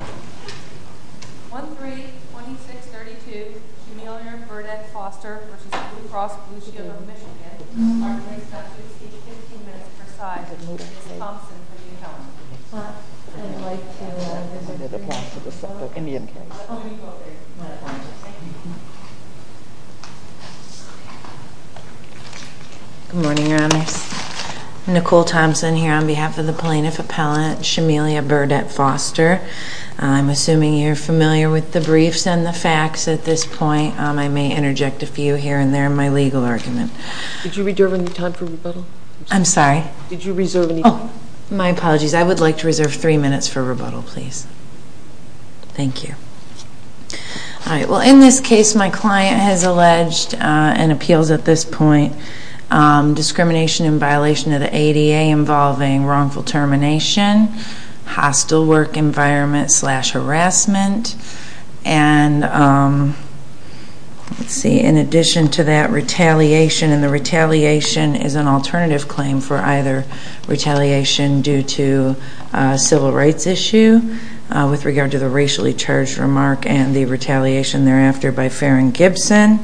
1-3-26-32, Shemelia Burdett Foster v. Blue Cross Blue Shield of Michigan. Our next subject is 15 minutes per side. Ms. Thompson, will you help us? I'd like to, uh... Good morning, your honors. I'm Nicole Thompson here on behalf of the plaintiff appellate, Shemelia Burdett Foster. I'm assuming you're familiar with the briefs and the facts at this point. I may interject a few here and there in my legal argument. Did you reserve any time for rebuttal? I'm sorry? Did you reserve any time? Oh, my apologies. I would like to reserve three minutes for rebuttal, please. Thank you. All right. Well, in this case, my client has alleged, and appeals at this point, discrimination in violation of the ADA involving wrongful termination, hostile work environment, slash, harassment. And, let's see, in addition to that, retaliation. And the retaliation is an alternative claim for either retaliation due to a civil rights issue with regard to the racially charged remark and the retaliation thereafter by Farron Gibson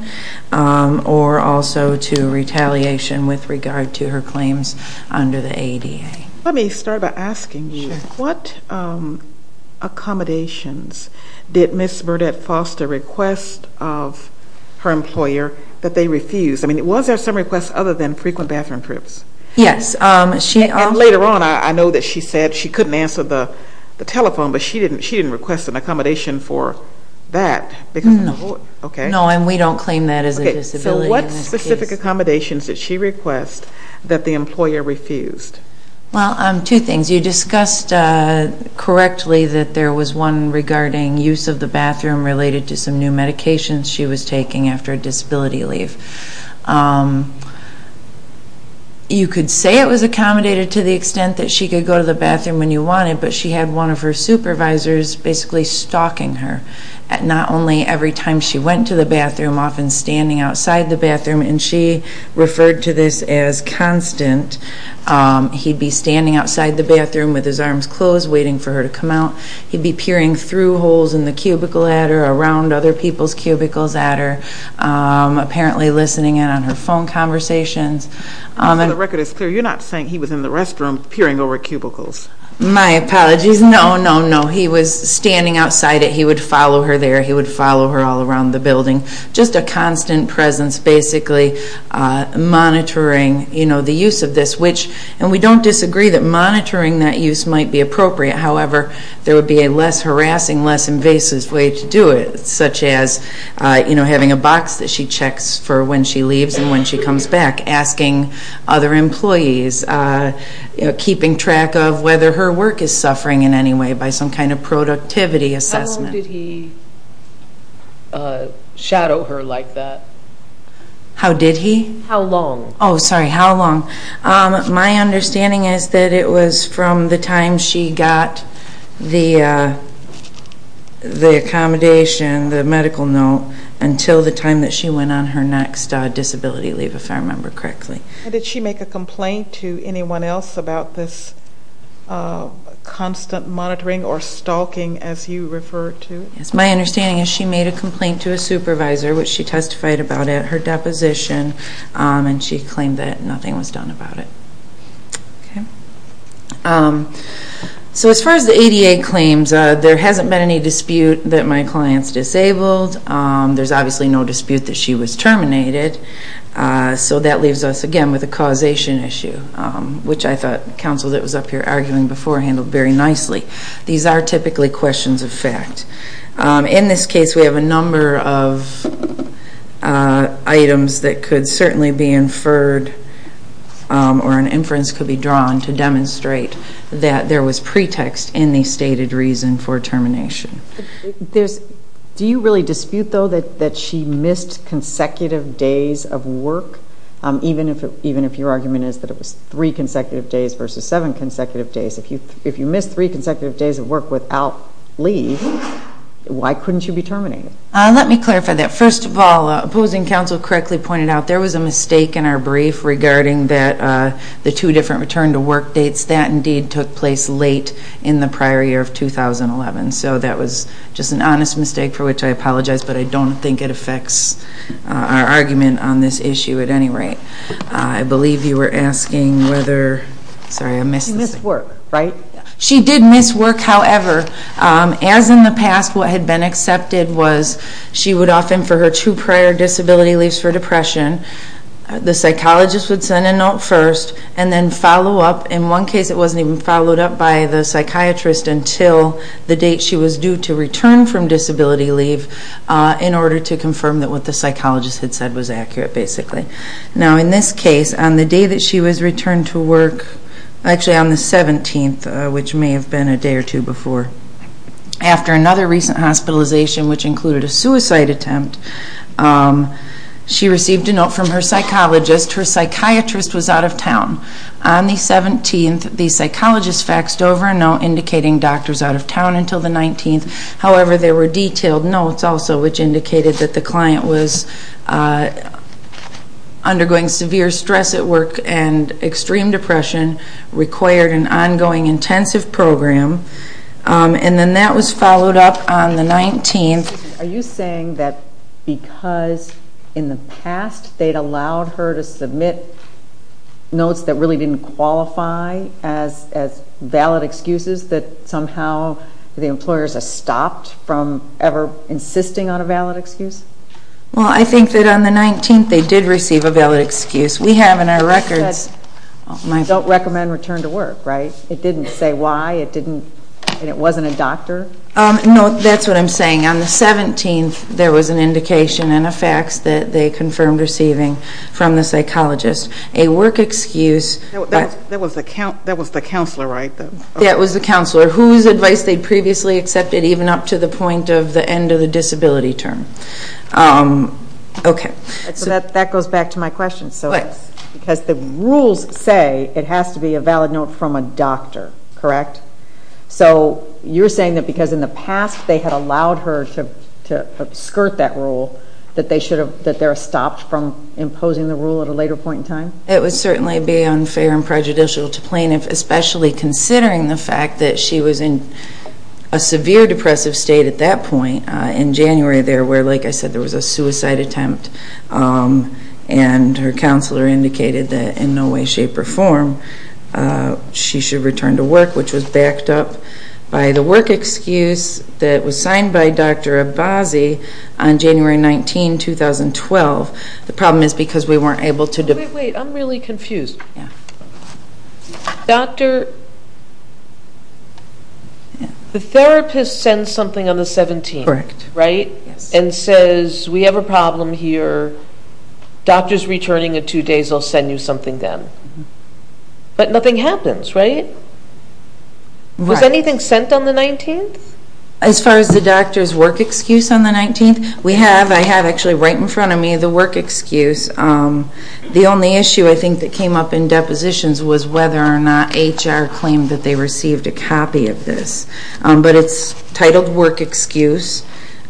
or also to retaliation with regard to her claims under the ADA. Let me start by asking you, what accommodations did Ms. Burdett Foster request of her employer that they refused? I mean, was there some requests other than frequent bathroom trips? Yes. And later on, I know that she said she couldn't answer the telephone, but she didn't request an accommodation for that. No. Okay. No, and we don't claim that as a disability in this case. Okay. So what specific accommodations did she request that the employer refused? Well, two things. You discussed correctly that there was one regarding use of the bathroom related to some new medications she was taking after a disability leave. You could say it was accommodated to the extent that she could go to the bathroom when you wanted, but she had one of her supervisors basically stalking her not only every time she went to the bathroom, often standing outside the bathroom, and she referred to this as constant. He'd be standing outside the bathroom with his arms closed waiting for her to come out. He'd be peering through holes in the cubicle at her, around other people's cubicles at her, apparently listening in on her phone conversations. So the record is clear. You're not saying he was in the restroom peering over cubicles. My apologies. No, no, no. He was standing outside it. He would follow her there. He would follow her all around the building. Just a constant presence basically monitoring the use of this, which, and we don't disagree that monitoring that use might be appropriate. However, there would be a less harassing, less invasive way to do it, such as having a box that she checks for when she leaves and when she comes back, asking other employees, keeping track of whether her work is suffering in any way by some kind of productivity assessment. How long did he shadow her like that? How did he? How long? Oh, sorry. How long? My understanding is that it was from the time she got the accommodation, the medical note, until the time that she went on her next disability leave, if I remember correctly. Did she make a complaint to anyone else about this constant monitoring or stalking, as you refer to it? Yes. My understanding is she made a complaint to a supervisor, which she testified about at her deposition, and she claimed that nothing was done about it. Okay. So as far as the ADA claims, there hasn't been any dispute that my client's disabled. There's obviously no dispute that she was terminated. So that leaves us, again, with a causation issue, which I thought counsel that was up here arguing before handled very nicely. These are typically questions of fact. In this case, we have a number of items that could certainly be inferred or an inference could be drawn to demonstrate that there was pretext in the stated reason for termination. Do you really dispute, though, that she missed consecutive days of work, even if your argument is that it was three consecutive days versus seven consecutive days? If you missed three consecutive days of work without leave, why couldn't you be terminated? Let me clarify that. First of all, opposing counsel correctly pointed out there was a mistake in our brief regarding the two different return-to-work dates. That, indeed, took place late in the prior year of 2011. So that was just an honest mistake for which I apologize, but I don't think it affects our argument on this issue at any rate. I believe you were asking whether – sorry, I missed this. She did miss work, however. As in the past, what had been accepted was she would often, for her two prior disability leaves for depression, the psychologist would send a note first and then follow up. In one case, it wasn't even followed up by the psychiatrist until the date she was due to return from disability leave in order to confirm that what the psychologist had said was accurate, basically. Now, in this case, on the day that she was returned to work – actually, on the 17th, which may have been a day or two before. After another recent hospitalization, which included a suicide attempt, she received a note from her psychologist. Her psychiatrist was out of town. On the 17th, the psychologist faxed over a note indicating the doctor was out of town until the 19th. However, there were detailed notes also, which indicated that the client was undergoing severe stress at work and extreme depression, required an ongoing intensive program. And then that was followed up on the 19th. Are you saying that because in the past they'd allowed her to submit notes that really didn't qualify as valid excuses, that somehow the employers have stopped from ever insisting on a valid excuse? Well, I think that on the 19th, they did receive a valid excuse. We have in our records – You said don't recommend return to work, right? It didn't say why, and it wasn't a doctor? No, that's what I'm saying. On the 17th, there was an indication and a fax that they confirmed receiving from the psychologist. A work excuse – That was the counselor, right? Yeah, it was the counselor, whose advice they'd previously accepted even up to the point of the end of the disability term. Okay. That goes back to my question. Because the rules say it has to be a valid note from a doctor, correct? So you're saying that because in the past they had allowed her to skirt that rule, that they're stopped from imposing the rule at a later point in time? It would certainly be unfair and prejudicial to plaintiffs, especially considering the fact that she was in a severe depressive state at that point, in January there, where, like I said, there was a suicide attempt, and her counselor indicated that in no way, shape, or form, she should return to work, which was backed up by the work excuse that was signed by Dr. Abbasi on January 19, 2012. The problem is because we weren't able to – Wait, wait, I'm really confused. The therapist sends something on the 17th, right? And says, we have a problem here, doctor's returning in two days, I'll send you something then. But nothing happens, right? Was anything sent on the 19th? As far as the doctor's work excuse on the 19th, we have, I have actually right in front of me the work excuse. The only issue, I think, that came up in depositions was whether or not HR claimed that they received a copy of this. But it's titled work excuse,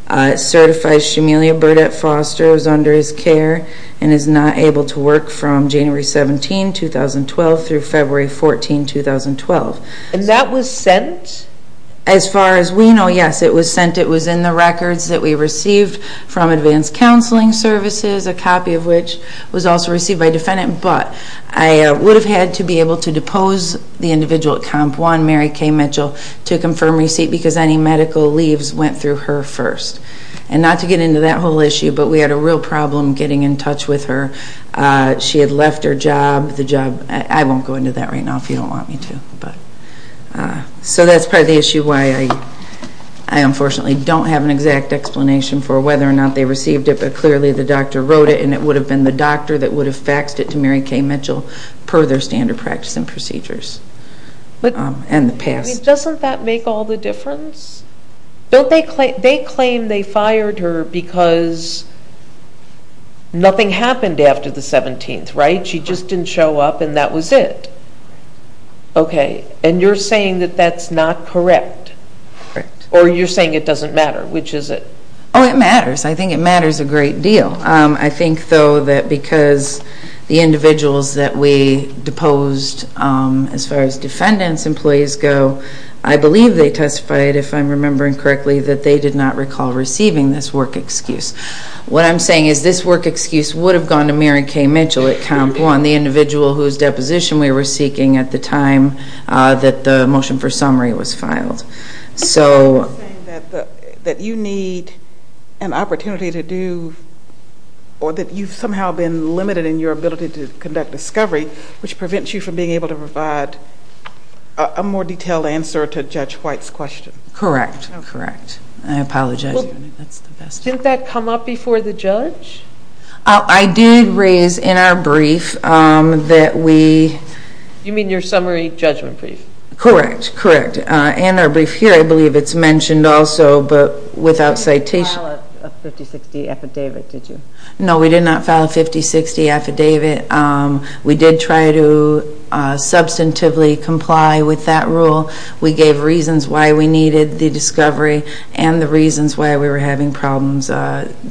it certifies Shamelia Burdett Foster is under his care and is not able to work from January 17, 2012 through February 14, 2012. And that was sent? As far as we know, yes, it was sent. It was in the records that we received from Advanced Counseling Services, a copy of which was also received by a defendant. But I would have had to be able to depose the individual at Comp 1, Mary Kay Mitchell, to confirm receipt because any medical leaves went through her first. And not to get into that whole issue, but we had a real problem getting in touch with her. She had left her job. I won't go into that right now if you don't want me to. So that's part of the issue why I, unfortunately, don't have an exact explanation for whether or not they received it. But clearly the doctor wrote it, and it would have been the doctor that would have faxed it to Mary Kay Mitchell per their standard practice and procedures. Doesn't that make all the difference? They claim they fired her because nothing happened after the 17th, right? She just didn't show up, and that was it. Okay. And you're saying that that's not correct? Correct. Or you're saying it doesn't matter? Which is it? Oh, it matters. I think it matters a great deal. I think, though, that because the individuals that we deposed, as far as defendants' employees go, I believe they testified, if I'm remembering correctly, that they did not recall receiving this work excuse. What I'm saying is this work excuse would have gone to Mary Kay Mitchell at Comp 1, on the individual whose deposition we were seeking at the time that the motion for summary was filed. You're saying that you need an opportunity to do or that you've somehow been limited in your ability to conduct discovery, which prevents you from being able to provide a more detailed answer to Judge White's question. Correct. Correct. I apologize. Didn't that come up before the judge? I did raise in our brief that we – You mean your summary judgment brief? Correct. Correct. In our brief here, I believe it's mentioned also, but without citation – You did not file a 5060 affidavit, did you? No, we did not file a 5060 affidavit. We did try to substantively comply with that rule. We gave reasons why we needed the discovery and the reasons why we were having problems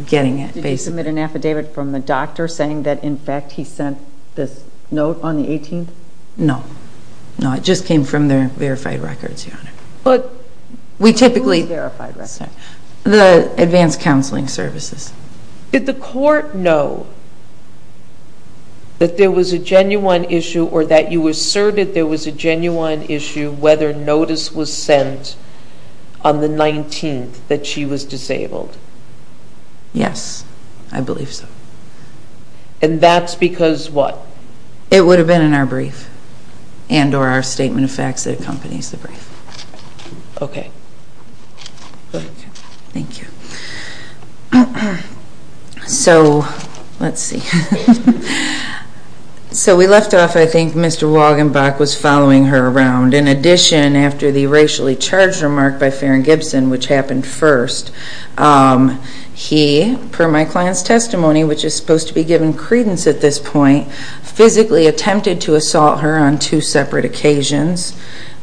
getting it, basically. Did you submit an affidavit from the doctor saying that, in fact, he sent this note on the 18th? No. No, it just came from their verified records, Your Honor. But who's verified records? The Advanced Counseling Services. Did the court know that there was a genuine issue or that you asserted there was a genuine issue whether notice was sent on the 19th that she was disabled? Yes, I believe so. And that's because what? It would have been in our brief and or our statement of facts that accompanies the brief. Okay. Thank you. So, let's see. So we left off, I think, Mr. Wagenbach was following her around. In addition, after the racially charged remark by Farron Gibson, which happened first, he, per my client's testimony, which is supposed to be given credence at this point, physically attempted to assault her on two separate occasions.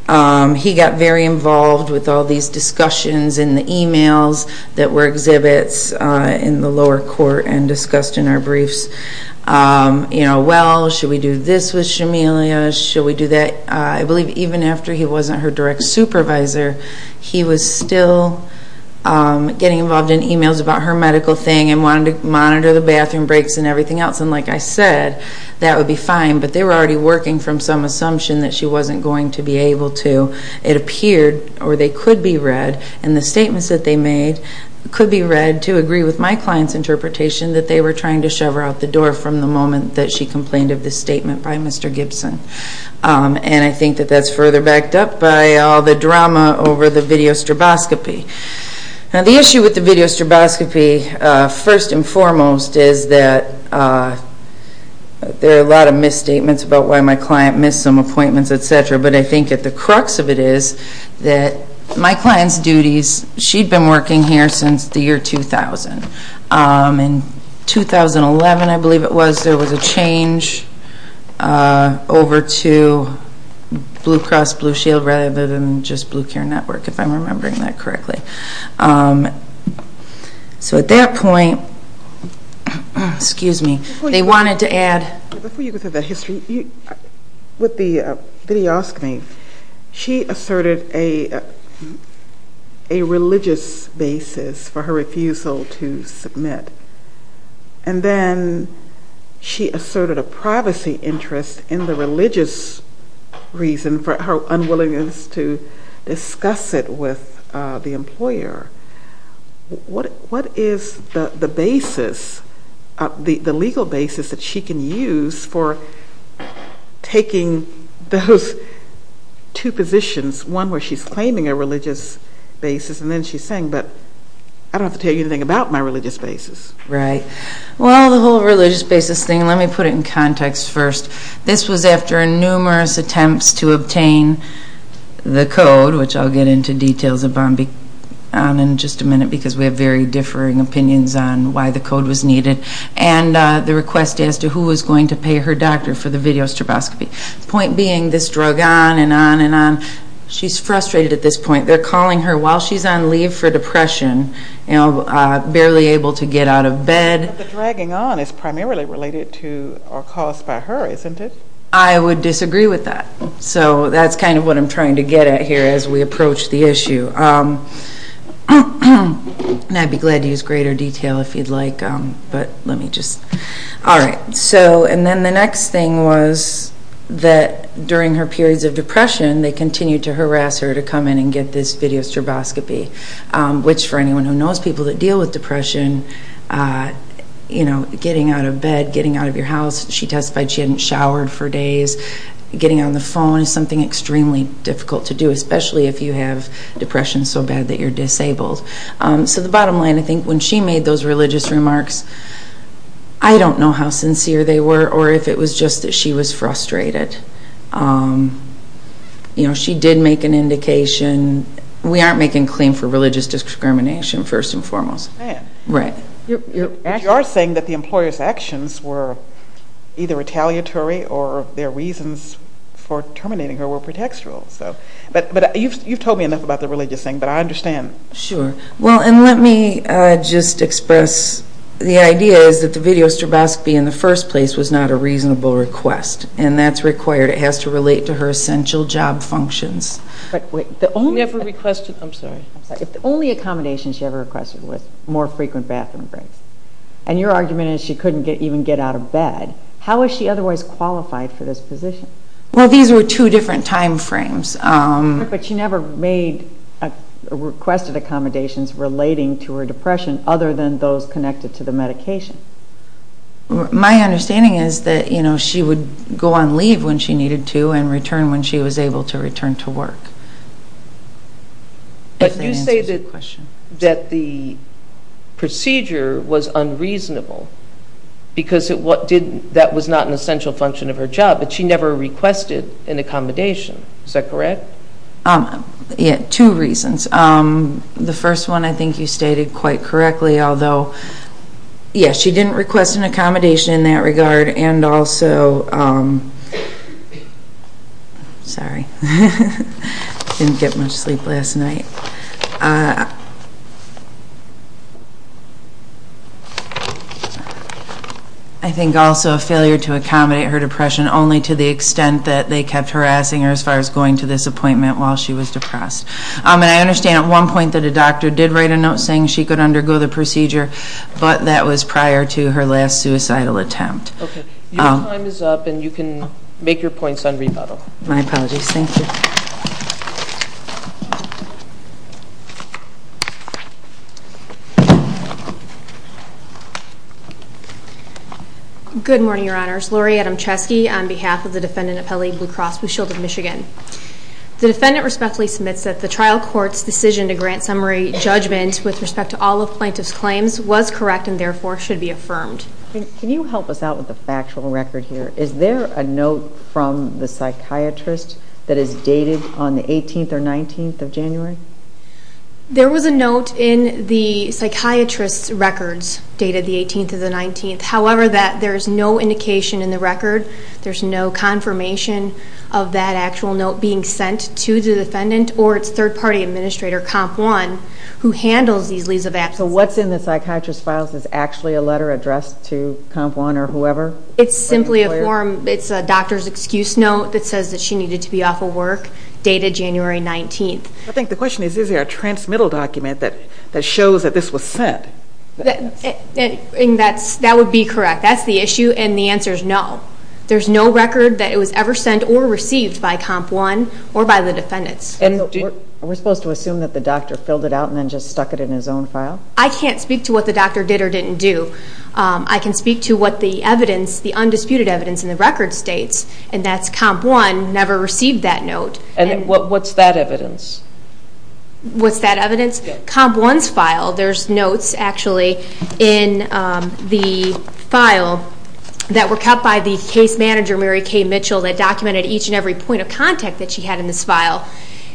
He got very involved with all these discussions in the e-mails that were exhibits in the lower court and discussed in our briefs. You know, well, should we do this with Shamelia? Should we do that? I believe even after he wasn't her direct supervisor, he was still getting involved in e-mails about her medical thing and wanted to monitor the bathroom breaks and everything else. And like I said, that would be fine, but they were already working from some assumption that she wasn't going to be able to. It appeared, or they could be read, and the statements that they made could be read to agree with my client's interpretation that they were trying to shove her out the door from the moment that she complained of this statement by Mr. Gibson. And I think that that's further backed up by all the drama over the video stroboscopy. Now, the issue with the video stroboscopy, first and foremost, is that there are a lot of misstatements about why my client missed some appointments, et cetera, but I think that the crux of it is that my client's duties, she'd been working here since the year 2000. In 2011, I believe it was, there was a change over to Blue Cross Blue Shield rather than just Blue Care Network, if I'm remembering that correctly. So at that point, they wanted to add... Before you go through that history, with the videooscopy, she asserted a religious basis for her refusal to submit. And then she asserted a privacy interest in the religious reason for her unwillingness to discuss it with the employer. What is the basis, the legal basis that she can use for taking those two positions, one where she's claiming a religious basis, and then she's saying, but I don't have to tell you anything about my religious basis. Right. Well, the whole religious basis thing, let me put it in context first. This was after numerous attempts to obtain the code, which I'll get into details of in just a minute because we have very differing opinions on why the code was needed, and the request as to who was going to pay her doctor for the videostroboscopy. The point being, this drug on and on and on. She's frustrated at this point. They're calling her while she's on leave for depression, barely able to get out of bed. But the dragging on is primarily related to or caused by her, isn't it? I would disagree with that. So that's kind of what I'm trying to get at here as we approach the issue. And I'd be glad to use greater detail if you'd like, but let me just... All right. And then the next thing was that during her periods of depression, they continued to harass her to come in and get this videostroboscopy, which for anyone who knows people that deal with depression, getting out of bed, getting out of your house. She testified she hadn't showered for days. Getting on the phone is something extremely difficult to do, especially if you have depression so bad that you're disabled. So the bottom line, I think, when she made those religious remarks, I don't know how sincere they were or if it was just that she was frustrated. You know, she did make an indication. We aren't making a claim for religious discrimination, first and foremost. Right. But you are saying that the employer's actions were either retaliatory or their reasons for terminating her were pretextual. But you've told me enough about the religious thing, but I understand. Sure. Well, and let me just express the idea is that the videostroboscopy in the first place was not a reasonable request, and that's required. It has to relate to her essential job functions. But wait, the only... She never requested... I'm sorry. I'm sorry. If the only accommodation she ever requested was more frequent bathroom breaks, and your argument is she couldn't even get out of bed, how is she otherwise qualified for this position? Well, these were two different time frames. But she never made or requested accommodations relating to her depression other than those connected to the medication. My understanding is that she would go on leave when she needed to and return when she was able to return to work. But you say that the procedure was unreasonable because that was not an essential function of her job, but she never requested an accommodation. Is that correct? Yeah, two reasons. The first one I think you stated quite correctly, although, yeah, she didn't request an accommodation in that regard, and also... Sorry. Didn't get much sleep last night. I think also a failure to accommodate her depression only to the extent that they kept harassing her as far as going to this appointment while she was depressed. And I understand at one point that a doctor did write a note saying she could undergo the procedure, but that was prior to her last suicidal attempt. Okay. Your time is up, and you can make your points on rebuttal. My apologies. Thank you. Thank you. Good morning, Your Honors. Lori Adamczewski on behalf of the defendant at Pele Blue Cross Blue Shield of Michigan. The defendant respectfully submits that the trial court's decision to grant summary judgment with respect to all of plaintiff's claims was correct and therefore should be affirmed. Can you help us out with the factual record here? Is there a note from the psychiatrist that is dated on the 18th or 19th of January? There was a note in the psychiatrist's records dated the 18th or the 19th. However, there is no indication in the record, there's no confirmation of that actual note being sent to the defendant or its third-party administrator, Comp 1, who handles these leaves of absence. So what's in the psychiatrist's files is actually a letter addressed to Comp 1 or whoever? It's simply a form. It's a doctor's excuse note that says that she needed to be off of work dated January 19th. I think the question is, is there a transmittal document that shows that this was sent? That would be correct. That's the issue, and the answer is no. There's no record that it was ever sent or received by Comp 1 or by the defendants. Are we supposed to assume that the doctor filled it out and then just stuck it in his own file? I can't speak to what the doctor did or didn't do. I can speak to what the evidence, the undisputed evidence in the record states, and that's Comp 1 never received that note. And what's that evidence? What's that evidence? Comp 1's file, there's notes actually in the file that were cut by the case manager, Mary Kay Mitchell, that documented each and every point of contact that she had in this file,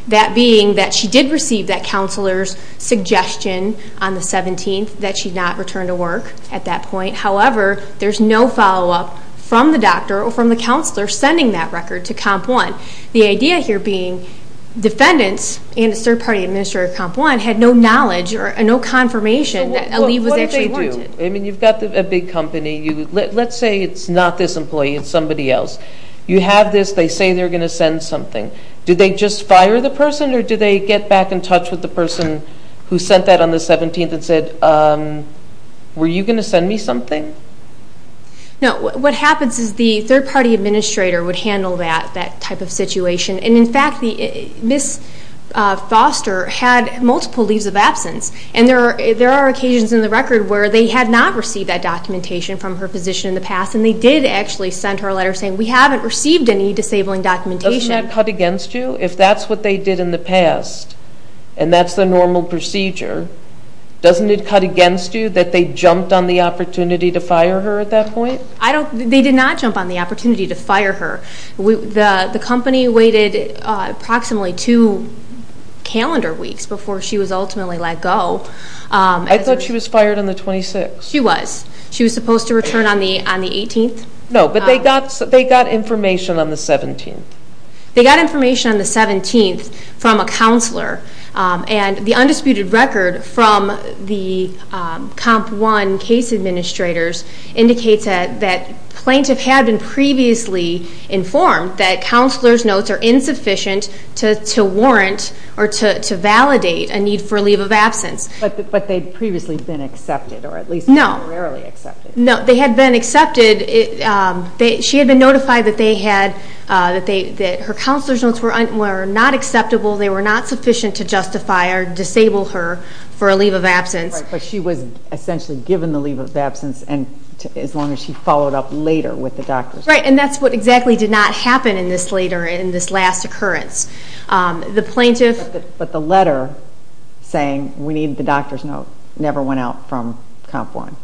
that being that she did receive that counselor's suggestion on the 17th that she not return to work at that point. However, there's no follow-up from the doctor or from the counselor sending that record to Comp 1. The idea here being defendants and a third-party administrator at Comp 1 had no knowledge or no confirmation that a leave was actually wanted. So what do they do? I mean, you've got a big company. Let's say it's not this employee, it's somebody else. You have this. They say they're going to send something. Do they just fire the person, or do they get back in touch with the person who sent that on the 17th and say, Were you going to send me something? No. What happens is the third-party administrator would handle that type of situation. In fact, Ms. Foster had multiple leaves of absence, and there are occasions in the record where they had not received that documentation from her physician in the past, and they did actually send her a letter saying, We haven't received any disabling documentation. Doesn't that cut against you? If that's what they did in the past, and that's the normal procedure, doesn't it cut against you that they jumped on the opportunity to fire her at that point? They did not jump on the opportunity to fire her. The company waited approximately two calendar weeks before she was ultimately let go. I thought she was fired on the 26th. She was. She was supposed to return on the 18th. No, but they got information on the 17th. They got information on the 17th from a counselor, and the undisputed record from the COMP 1 case administrators indicates that plaintiff had been previously informed that counselor's notes are insufficient to warrant or to validate a need for a leave of absence. But they'd previously been accepted, or at least temporarily accepted. No, they had been accepted. She had been notified that her counselor's notes were not acceptable, they were not sufficient to justify or disable her for a leave of absence. Right, but she was essentially given the leave of absence as long as she followed up later with the doctor's note. Right, and that's what exactly did not happen in this later, in this last occurrence. But the letter saying we need the doctor's note never went out from COMP 1.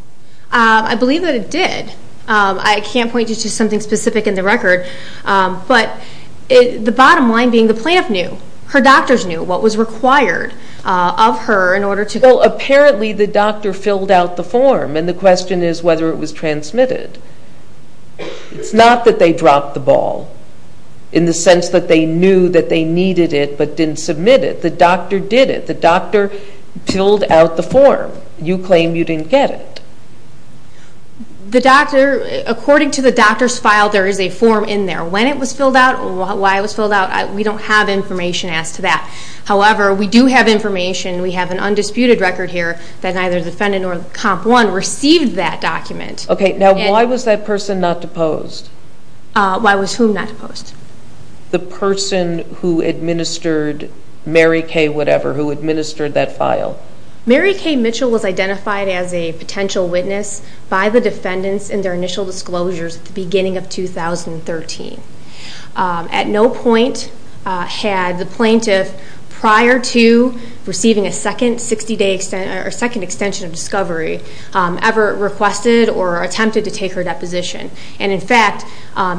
I believe that it did. I can't point you to something specific in the record. But the bottom line being the plaintiff knew, her doctors knew what was required of her in order to go. Well, apparently the doctor filled out the form, and the question is whether it was transmitted. It's not that they dropped the ball, in the sense that they knew that they needed it but didn't submit it. The doctor did it. The doctor filled out the form. You claim you didn't get it. The doctor, according to the doctor's file, there is a form in there. When it was filled out, why it was filled out, we don't have information as to that. However, we do have information, we have an undisputed record here, that neither defendant nor COMP 1 received that document. Okay, now why was that person not deposed? Why was whom not deposed? The person who administered Mary Kay whatever, who administered that file. Mary Kay Mitchell was identified as a potential witness by the defendants in their initial disclosures at the beginning of 2013. At no point had the plaintiff, prior to receiving a second 60-day extension, or second extension of discovery, ever requested or attempted to take her deposition. In fact,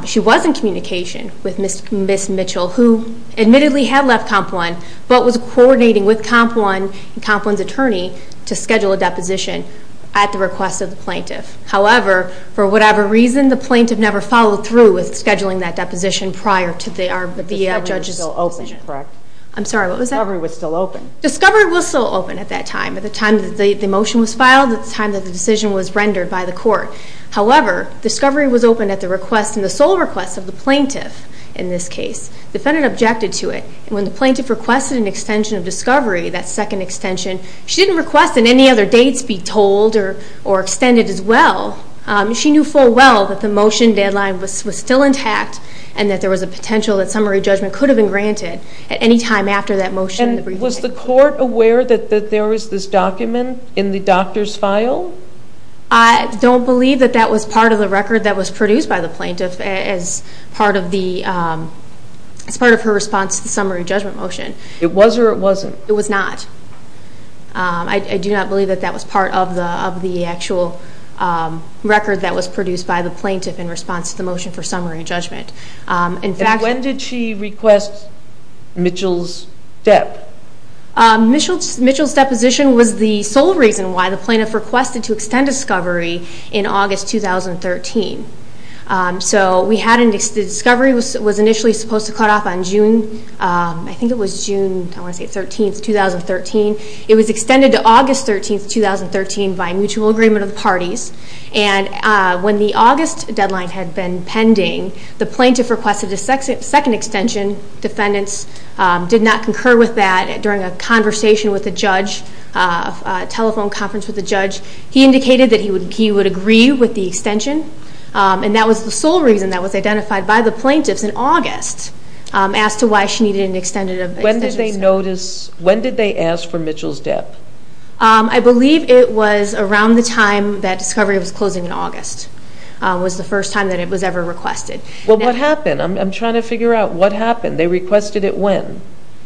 she was in communication with Ms. Mitchell, who admittedly had left COMP 1, but was coordinating with COMP 1 and COMP 1's attorney to schedule a deposition at the request of the plaintiff. However, for whatever reason, the plaintiff never followed through with scheduling that deposition prior to the judge's decision. Discovery was still open, correct? I'm sorry, what was that? Discovery was still open. Discovery was still open at that time, at the time that the motion was filed, at the time that the decision was rendered by the court. However, discovery was open at the request, and the sole request of the plaintiff in this case. Defendant objected to it. When the plaintiff requested an extension of discovery, that second extension, she didn't request that any other dates be told, or extended as well. She knew full well that the motion deadline was still intact, and that there was a potential that summary judgment could have been granted at any time after that motion. And was the court aware that there was this document in the doctor's file? I don't believe that that was part of the record that was produced by the plaintiff as part of her response to the summary judgment motion. It was or it wasn't? It was not. I do not believe that that was part of the actual record that was produced by the plaintiff in response to the motion for summary judgment. And when did she request Mitchell's dep? Mitchell's deposition was the sole reason why the plaintiff requested to extend discovery in August 2013. So the discovery was initially supposed to cut off on June, I think it was June, I want to say 13th, 2013. It was extended to August 13th, 2013 by mutual agreement of the parties. And when the August deadline had been pending, the plaintiff requested a second extension. Defendants did not concur with that during a conversation with a judge, a telephone conference with a judge. He indicated that he would agree with the extension and that was the sole reason that was identified by the plaintiffs in August as to why she needed an extended extension. When did they ask for Mitchell's dep? I believe it was around the time that discovery was closing in August was the first time that it was ever requested. Well, what happened? I'm trying to figure out what happened. They requested it when?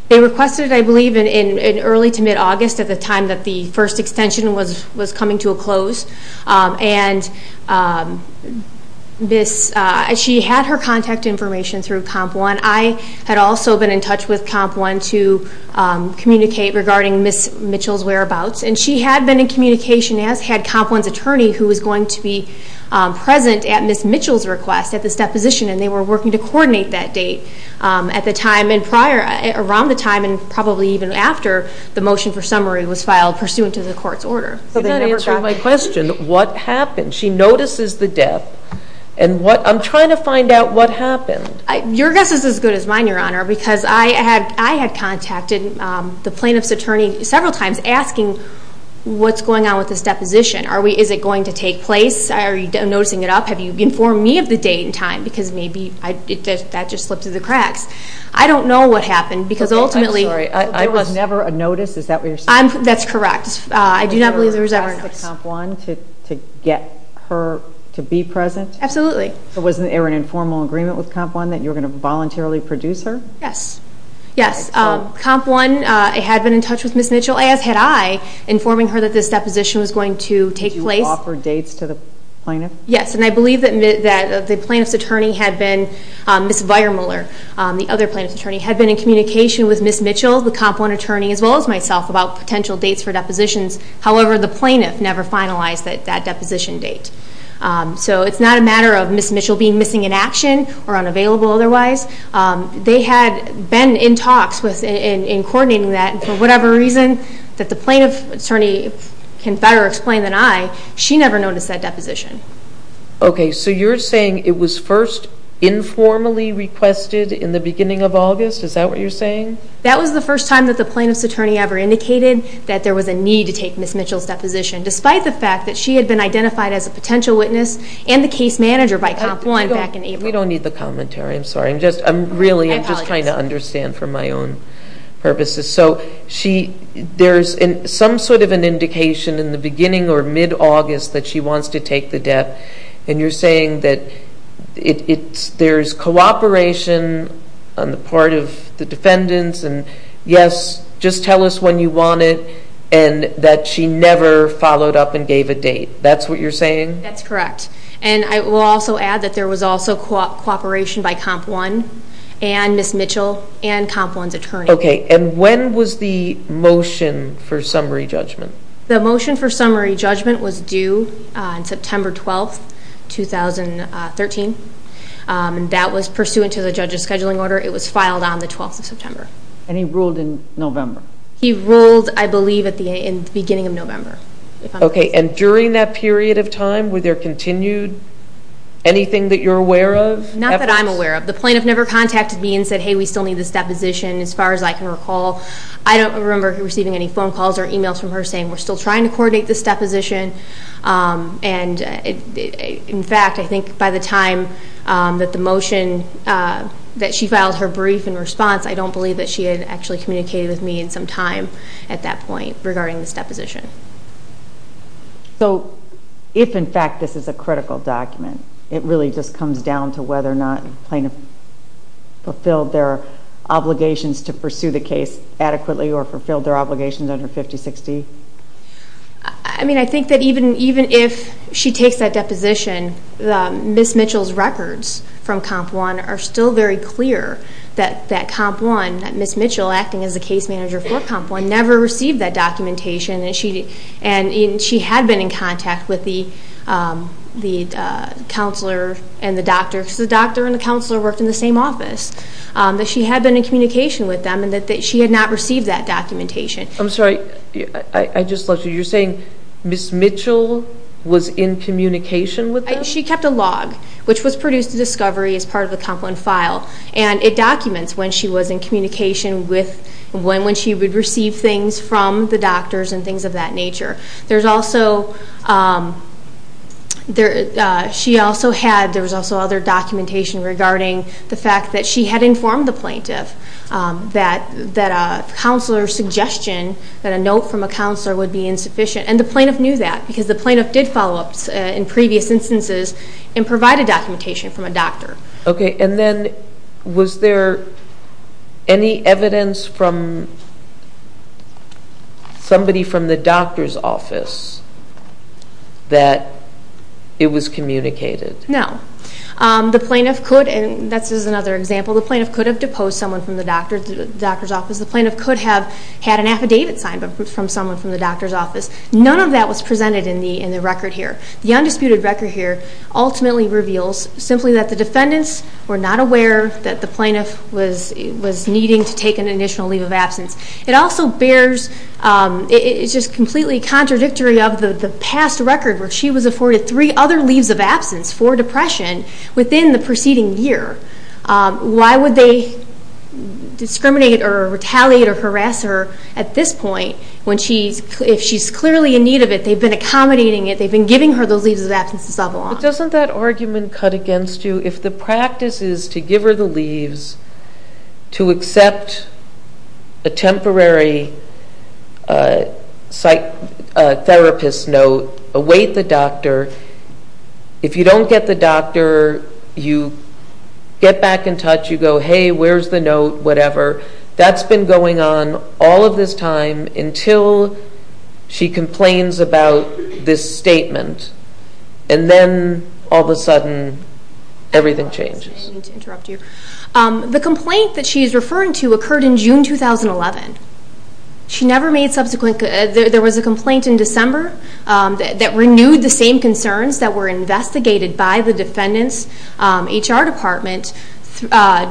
They requested it, I believe, in early to mid-August at the time that the first extension was coming to a close. And she had her contact information through COMP1. I had also been in touch with COMP1 to communicate regarding Ms. Mitchell's whereabouts. And she had been in communication, as had COMP1's attorney, who was going to be present at Ms. Mitchell's request at this deposition, and they were working to coordinate that date around the time and probably even after the motion for summary was filed pursuant to the court's order. You're not answering my question. What happened? She notices the dep. I'm trying to find out what happened. Your guess is as good as mine, Your Honor, because I had contacted the plaintiff's attorney several times asking what's going on with this deposition. Is it going to take place? Are you noticing it up? Have you informed me of the date and time? Because maybe that just slipped through the cracks. I don't know what happened because ultimately... That's correct. I do not believe there was ever a notice. Did you ask COMP1 to get her to be present? Absolutely. Was there an informal agreement with COMP1 that you were going to voluntarily produce her? Yes. COMP1 had been in touch with Ms. Mitchell, as had I, informing her that this deposition was going to take place. Did you offer dates to the plaintiff? Yes, and I believe that the plaintiff's attorney had been, Ms. Weiermuller, the other plaintiff's attorney, had been in communication with Ms. Mitchell, the COMP1 attorney, as well as myself about potential dates for depositions. However, the plaintiff never finalized that deposition date. So it's not a matter of Ms. Mitchell being missing in action or unavailable otherwise. They had been in talks in coordinating that. For whatever reason, that the plaintiff's attorney can better explain than I, she never noticed that deposition. Okay, so you're saying it was first informally requested in the beginning of August? Is that what you're saying? That was the first time that the plaintiff's attorney ever indicated that there was a need to take Ms. Mitchell's deposition, despite the fact that she had been identified as a potential witness and the case manager by COMP1 back in April. We don't need the commentary, I'm sorry. I'm really just trying to understand for my own purposes. So there's some sort of an indication in the beginning or mid-August that she wants to take the debt, and you're saying that there's cooperation on the part of the defendants, and yes, just tell us when you want it, and that she never followed up and gave a date. That's what you're saying? That's correct. And I will also add that there was also cooperation by COMP1 and Ms. Mitchell and COMP1's attorney. Okay, and when was the motion for summary judgment? The motion for summary judgment was due on September 12, 2013. That was pursuant to the judge's scheduling order. It was filed on the 12th of September. And he ruled in November? He ruled, I believe, in the beginning of November. Okay, and during that period of time, were there continued anything that you're aware of? Not that I'm aware of. The plaintiff never contacted me and said, hey, we still need this deposition. As far as I can recall, I don't remember receiving any phone calls or emails from her saying, we're still trying to coordinate this deposition. And, in fact, I think by the time that the motion that she filed her brief in response, I don't believe that she had actually communicated with me in some time at that point regarding this deposition. So if, in fact, this is a critical document, it really just comes down to whether or not the plaintiff fulfilled their obligations to pursue the case adequately or fulfilled their obligations under 5060? I mean, I think that even if she takes that deposition, Ms. Mitchell's records from Comp 1 are still very clear that Comp 1, that Ms. Mitchell acting as the case manager for Comp 1, never received that documentation. And she had been in contact with the counselor and the doctor, because the doctor and the counselor worked in the same office. She had been in communication with them, and she had not received that documentation. I'm sorry, I just lost you. You're saying Ms. Mitchell was in communication with them? She kept a log, which was produced at discovery as part of the Comp 1 file, and it documents when she was in communication with, when she would receive things from the doctors and things of that nature. There's also, she also had, there was also other documentation regarding the fact that she had informed the plaintiff that a counselor's suggestion, that a note from a counselor would be insufficient, and the plaintiff knew that, because the plaintiff did follow up in previous instances and provide a documentation from a doctor. Okay, and then was there any evidence from somebody from the doctor's office that it was communicated? No. The plaintiff could, and this is another example, the plaintiff could have deposed someone from the doctor's office. The plaintiff could have had an affidavit signed from someone from the doctor's office. None of that was presented in the record here. The undisputed record here ultimately reveals simply that the defendants were not aware that the plaintiff was needing to take an initial leave of absence. It also bears, it's just completely contradictory of the past record, where she was afforded three other leaves of absence for depression within the preceding year. Why would they discriminate or retaliate or harass her at this point when she's, if she's clearly in need of it, they've been accommodating it, they've been giving her those leaves of absence to settle on? But doesn't that argument cut against you? If the practice is to give her the leaves to accept a temporary psych therapist note, await the doctor, if you don't get the doctor, you get back in touch, you go, hey, where's the note, whatever, that's been going on all of this time until she complains about this statement. And then all of a sudden everything changes. The complaint that she's referring to occurred in June 2011. She never made subsequent, there was a complaint in December that renewed the same concerns that were investigated by the defendant's HR department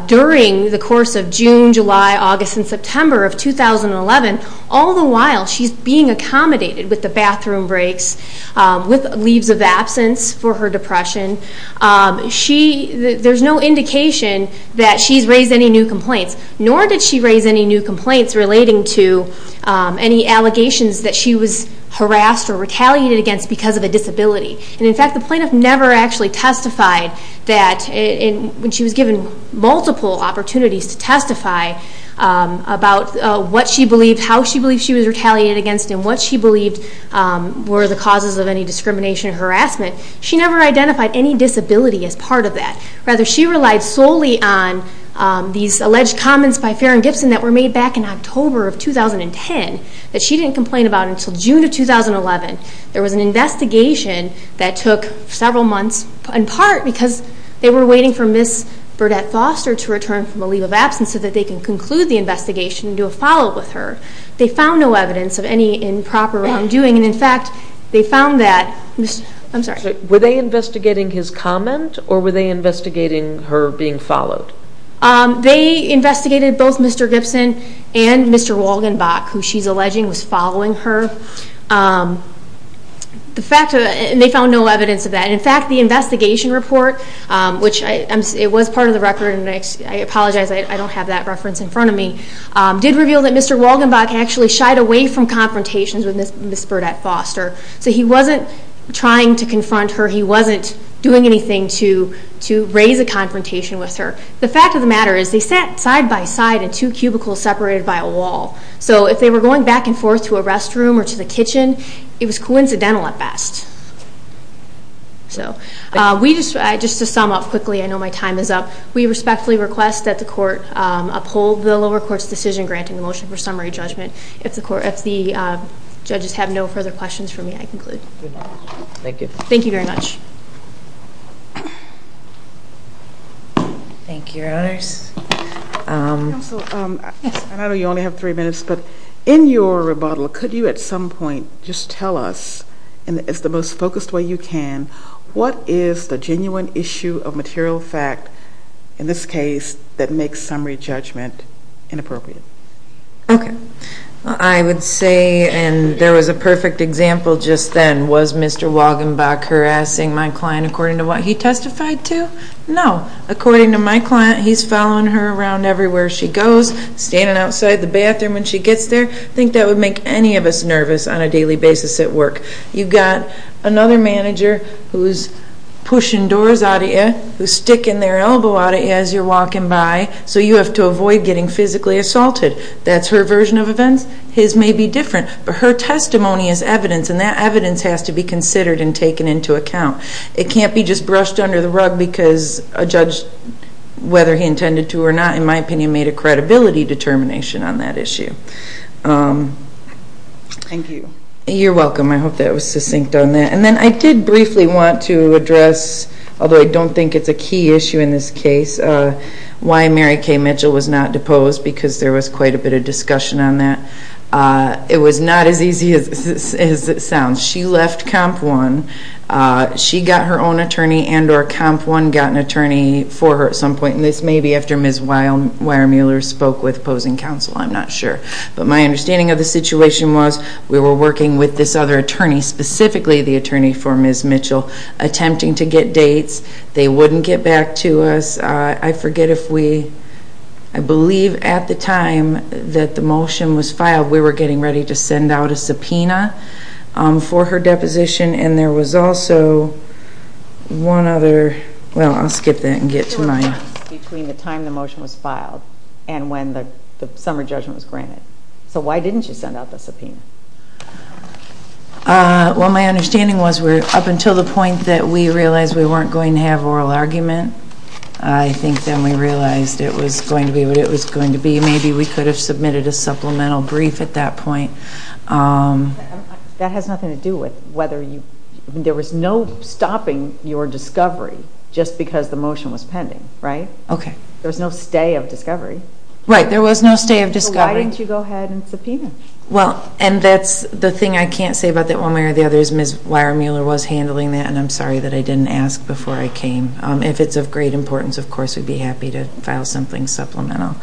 during the course of June, July, August, and September of 2011. All the while, she's being accommodated with the bathroom breaks, with leaves of absence for her depression. There's no indication that she's raised any new complaints, nor did she raise any new complaints relating to any allegations that she was harassed or retaliated against because of a disability. And in fact, the plaintiff never actually testified that, when she was given multiple opportunities to testify about what she believed, how she believed she was retaliated against, and what she believed were the causes of any discrimination or harassment. She never identified any disability as part of that. Rather, she relied solely on these alleged comments by Farron Gibson that were made back in October of 2010 that she didn't complain about until June of 2011. There was an investigation that took several months, in part because they were waiting for Ms. Burdett Foster to return from a leave of absence so that they can conclude the investigation and do a follow-up with her. They found no evidence of any improper wrongdoing, and in fact, they found that Ms. I'm sorry. Were they investigating his comment, or were they investigating her being followed? They investigated both Mr. Gibson and Mr. Walgenbach, who she's alleging was following her. And they found no evidence of that. In fact, the investigation report, which it was part of the record, and I apologize, I don't have that reference in front of me, did reveal that Mr. Walgenbach actually shied away from confrontations with Ms. Burdett Foster. So he wasn't trying to confront her. He wasn't doing anything to raise a confrontation with her. The fact of the matter is they sat side by side in two cubicles separated by a wall. So if they were going back and forth to a restroom or to the kitchen, it was coincidental at best. So just to sum up quickly, I know my time is up. We respectfully request that the court uphold the lower court's decision granting the motion for summary judgment. If the judges have no further questions for me, I conclude. Thank you. Thank you very much. Thank you, Your Honors. Counsel, I know you only have three minutes, but in your rebuttal, could you at some point just tell us, in the most focused way you can, what is the genuine issue of material fact in this case that makes summary judgment inappropriate? Okay. I would say, and there was a perfect example just then, was Mr. Walgenbach harassing my client according to what he testified to? No. According to my client, he's following her around everywhere she goes, standing outside the bathroom when she gets there. I think that would make any of us nervous on a daily basis at work. You've got another manager who's pushing doors out of you, who's sticking their elbow out of you as you're walking by, so you have to avoid getting physically assaulted. That's her version of events. His may be different, but her testimony is evidence, and that evidence has to be considered and taken into account. It can't be just brushed under the rug because a judge, whether he intended to or not, in my opinion, made a credibility determination on that issue. Thank you. You're welcome. I hope that was succinct on that. And then I did briefly want to address, although I don't think it's a key issue in this case, why Mary Kay Mitchell was not deposed because there was quite a bit of discussion on that. It was not as easy as it sounds. She left Comp 1. She got her own attorney and or Comp 1 got an attorney for her at some point, and this may be after Ms. Weiermuller spoke with opposing counsel. I'm not sure. But my understanding of the situation was we were working with this other attorney, specifically the attorney for Ms. Mitchell, attempting to get dates. They wouldn't get back to us. I forget if we, I believe at the time that the motion was filed, we were getting ready to send out a subpoena for her deposition, and there was also one other, well, I'll skip that and get to my. There were changes between the time the motion was filed and when the summer judgment was granted. So why didn't you send out the subpoena? Well, my understanding was up until the point that we realized we weren't going to have oral argument, I think then we realized it was going to be what it was going to be. Maybe we could have submitted a supplemental brief at that point. That has nothing to do with whether you, there was no stopping your discovery just because the motion was pending, right? Okay. There was no stay of discovery. Right, there was no stay of discovery. So why didn't you go ahead and subpoena? Well, and that's the thing I can't say about that one way or the other is Ms. Weiermuller was handling that, and I'm sorry that I didn't ask before I came. If it's of great importance, of course, we'd be happy to file something supplemental.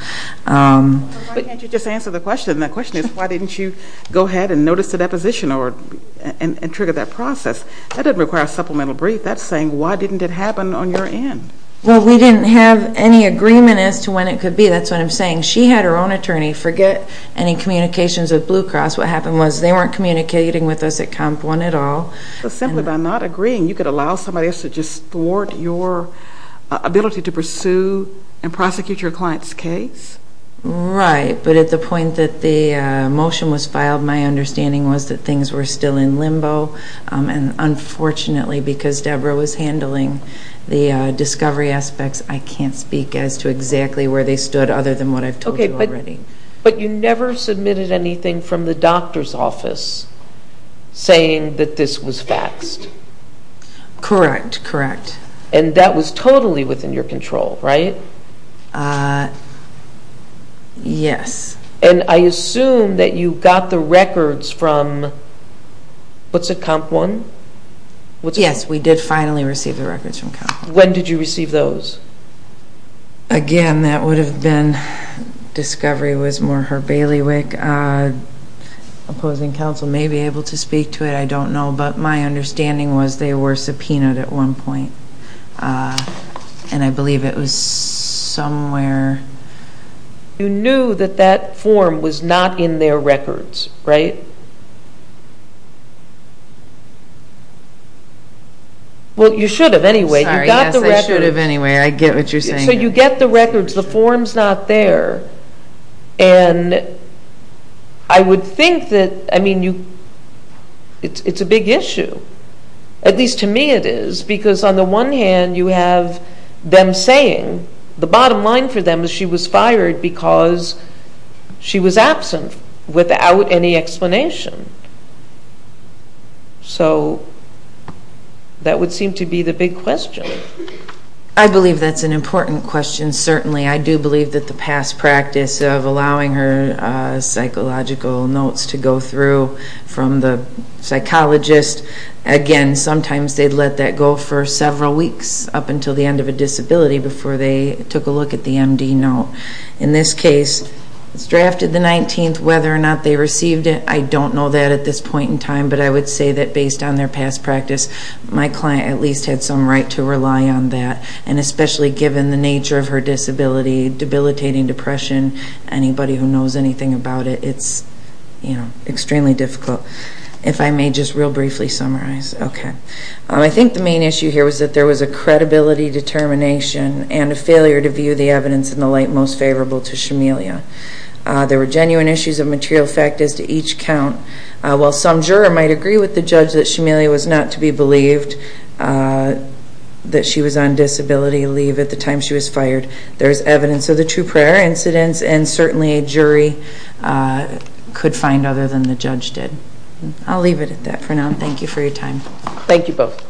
But why can't you just answer the question? The question is why didn't you go ahead and notice the deposition and trigger that process? That doesn't require a supplemental brief. That's saying why didn't it happen on your end? Well, we didn't have any agreement as to when it could be. That's what I'm saying. She had her own attorney. Forget any communications with Blue Cross. What happened was they weren't communicating with us at Comp 1 at all. So simply by not agreeing, you could allow somebody else to just thwart your ability to pursue and prosecute your client's case? Right, but at the point that the motion was filed, my understanding was that things were still in limbo. And unfortunately, because Deborah was handling the discovery aspects, I can't speak as to exactly where they stood other than what I've told you already. But you never submitted anything from the doctor's office saying that this was faxed? Correct, correct. And that was totally within your control, right? Yes. And I assume that you got the records from, what's it, Comp 1? Yes, we did finally receive the records from Comp 1. When did you receive those? Again, that would have been discovery was more her bailiwick. Opposing counsel may be able to speak to it. I don't know. But my understanding was they were subpoenaed at one point, and I believe it was somewhere. You knew that that form was not in their records, right? You got the records. I would have anyway. I get what you're saying. So you get the records. The form's not there. And I would think that, I mean, it's a big issue. At least to me it is, because on the one hand, you have them saying, the bottom line for them is she was fired because she was absent without any explanation. So that would seem to be the big question. I believe that's an important question, certainly. I do believe that the past practice of allowing her psychological notes to go through from the psychologist, again, sometimes they'd let that go for several weeks up until the end of a disability before they took a look at the MD note. In this case, it's drafted the 19th. Whether or not they received it, I don't know that at this point in time. But I would say that based on their past practice, my client at least had some right to rely on that. And especially given the nature of her disability, debilitating depression, anybody who knows anything about it, it's extremely difficult. If I may just real briefly summarize. Okay. I think the main issue here was that there was a credibility determination and a failure to view the evidence in the light most favorable to Shamelia. There were genuine issues of material fact as to each count. While some juror might agree with the judge that Shamelia was not to be believed that she was on disability leave at the time she was fired, there is evidence of the true prior incidents and certainly a jury could find other than the judge did. I'll leave it at that for now. Thank you for your time. Thank you both.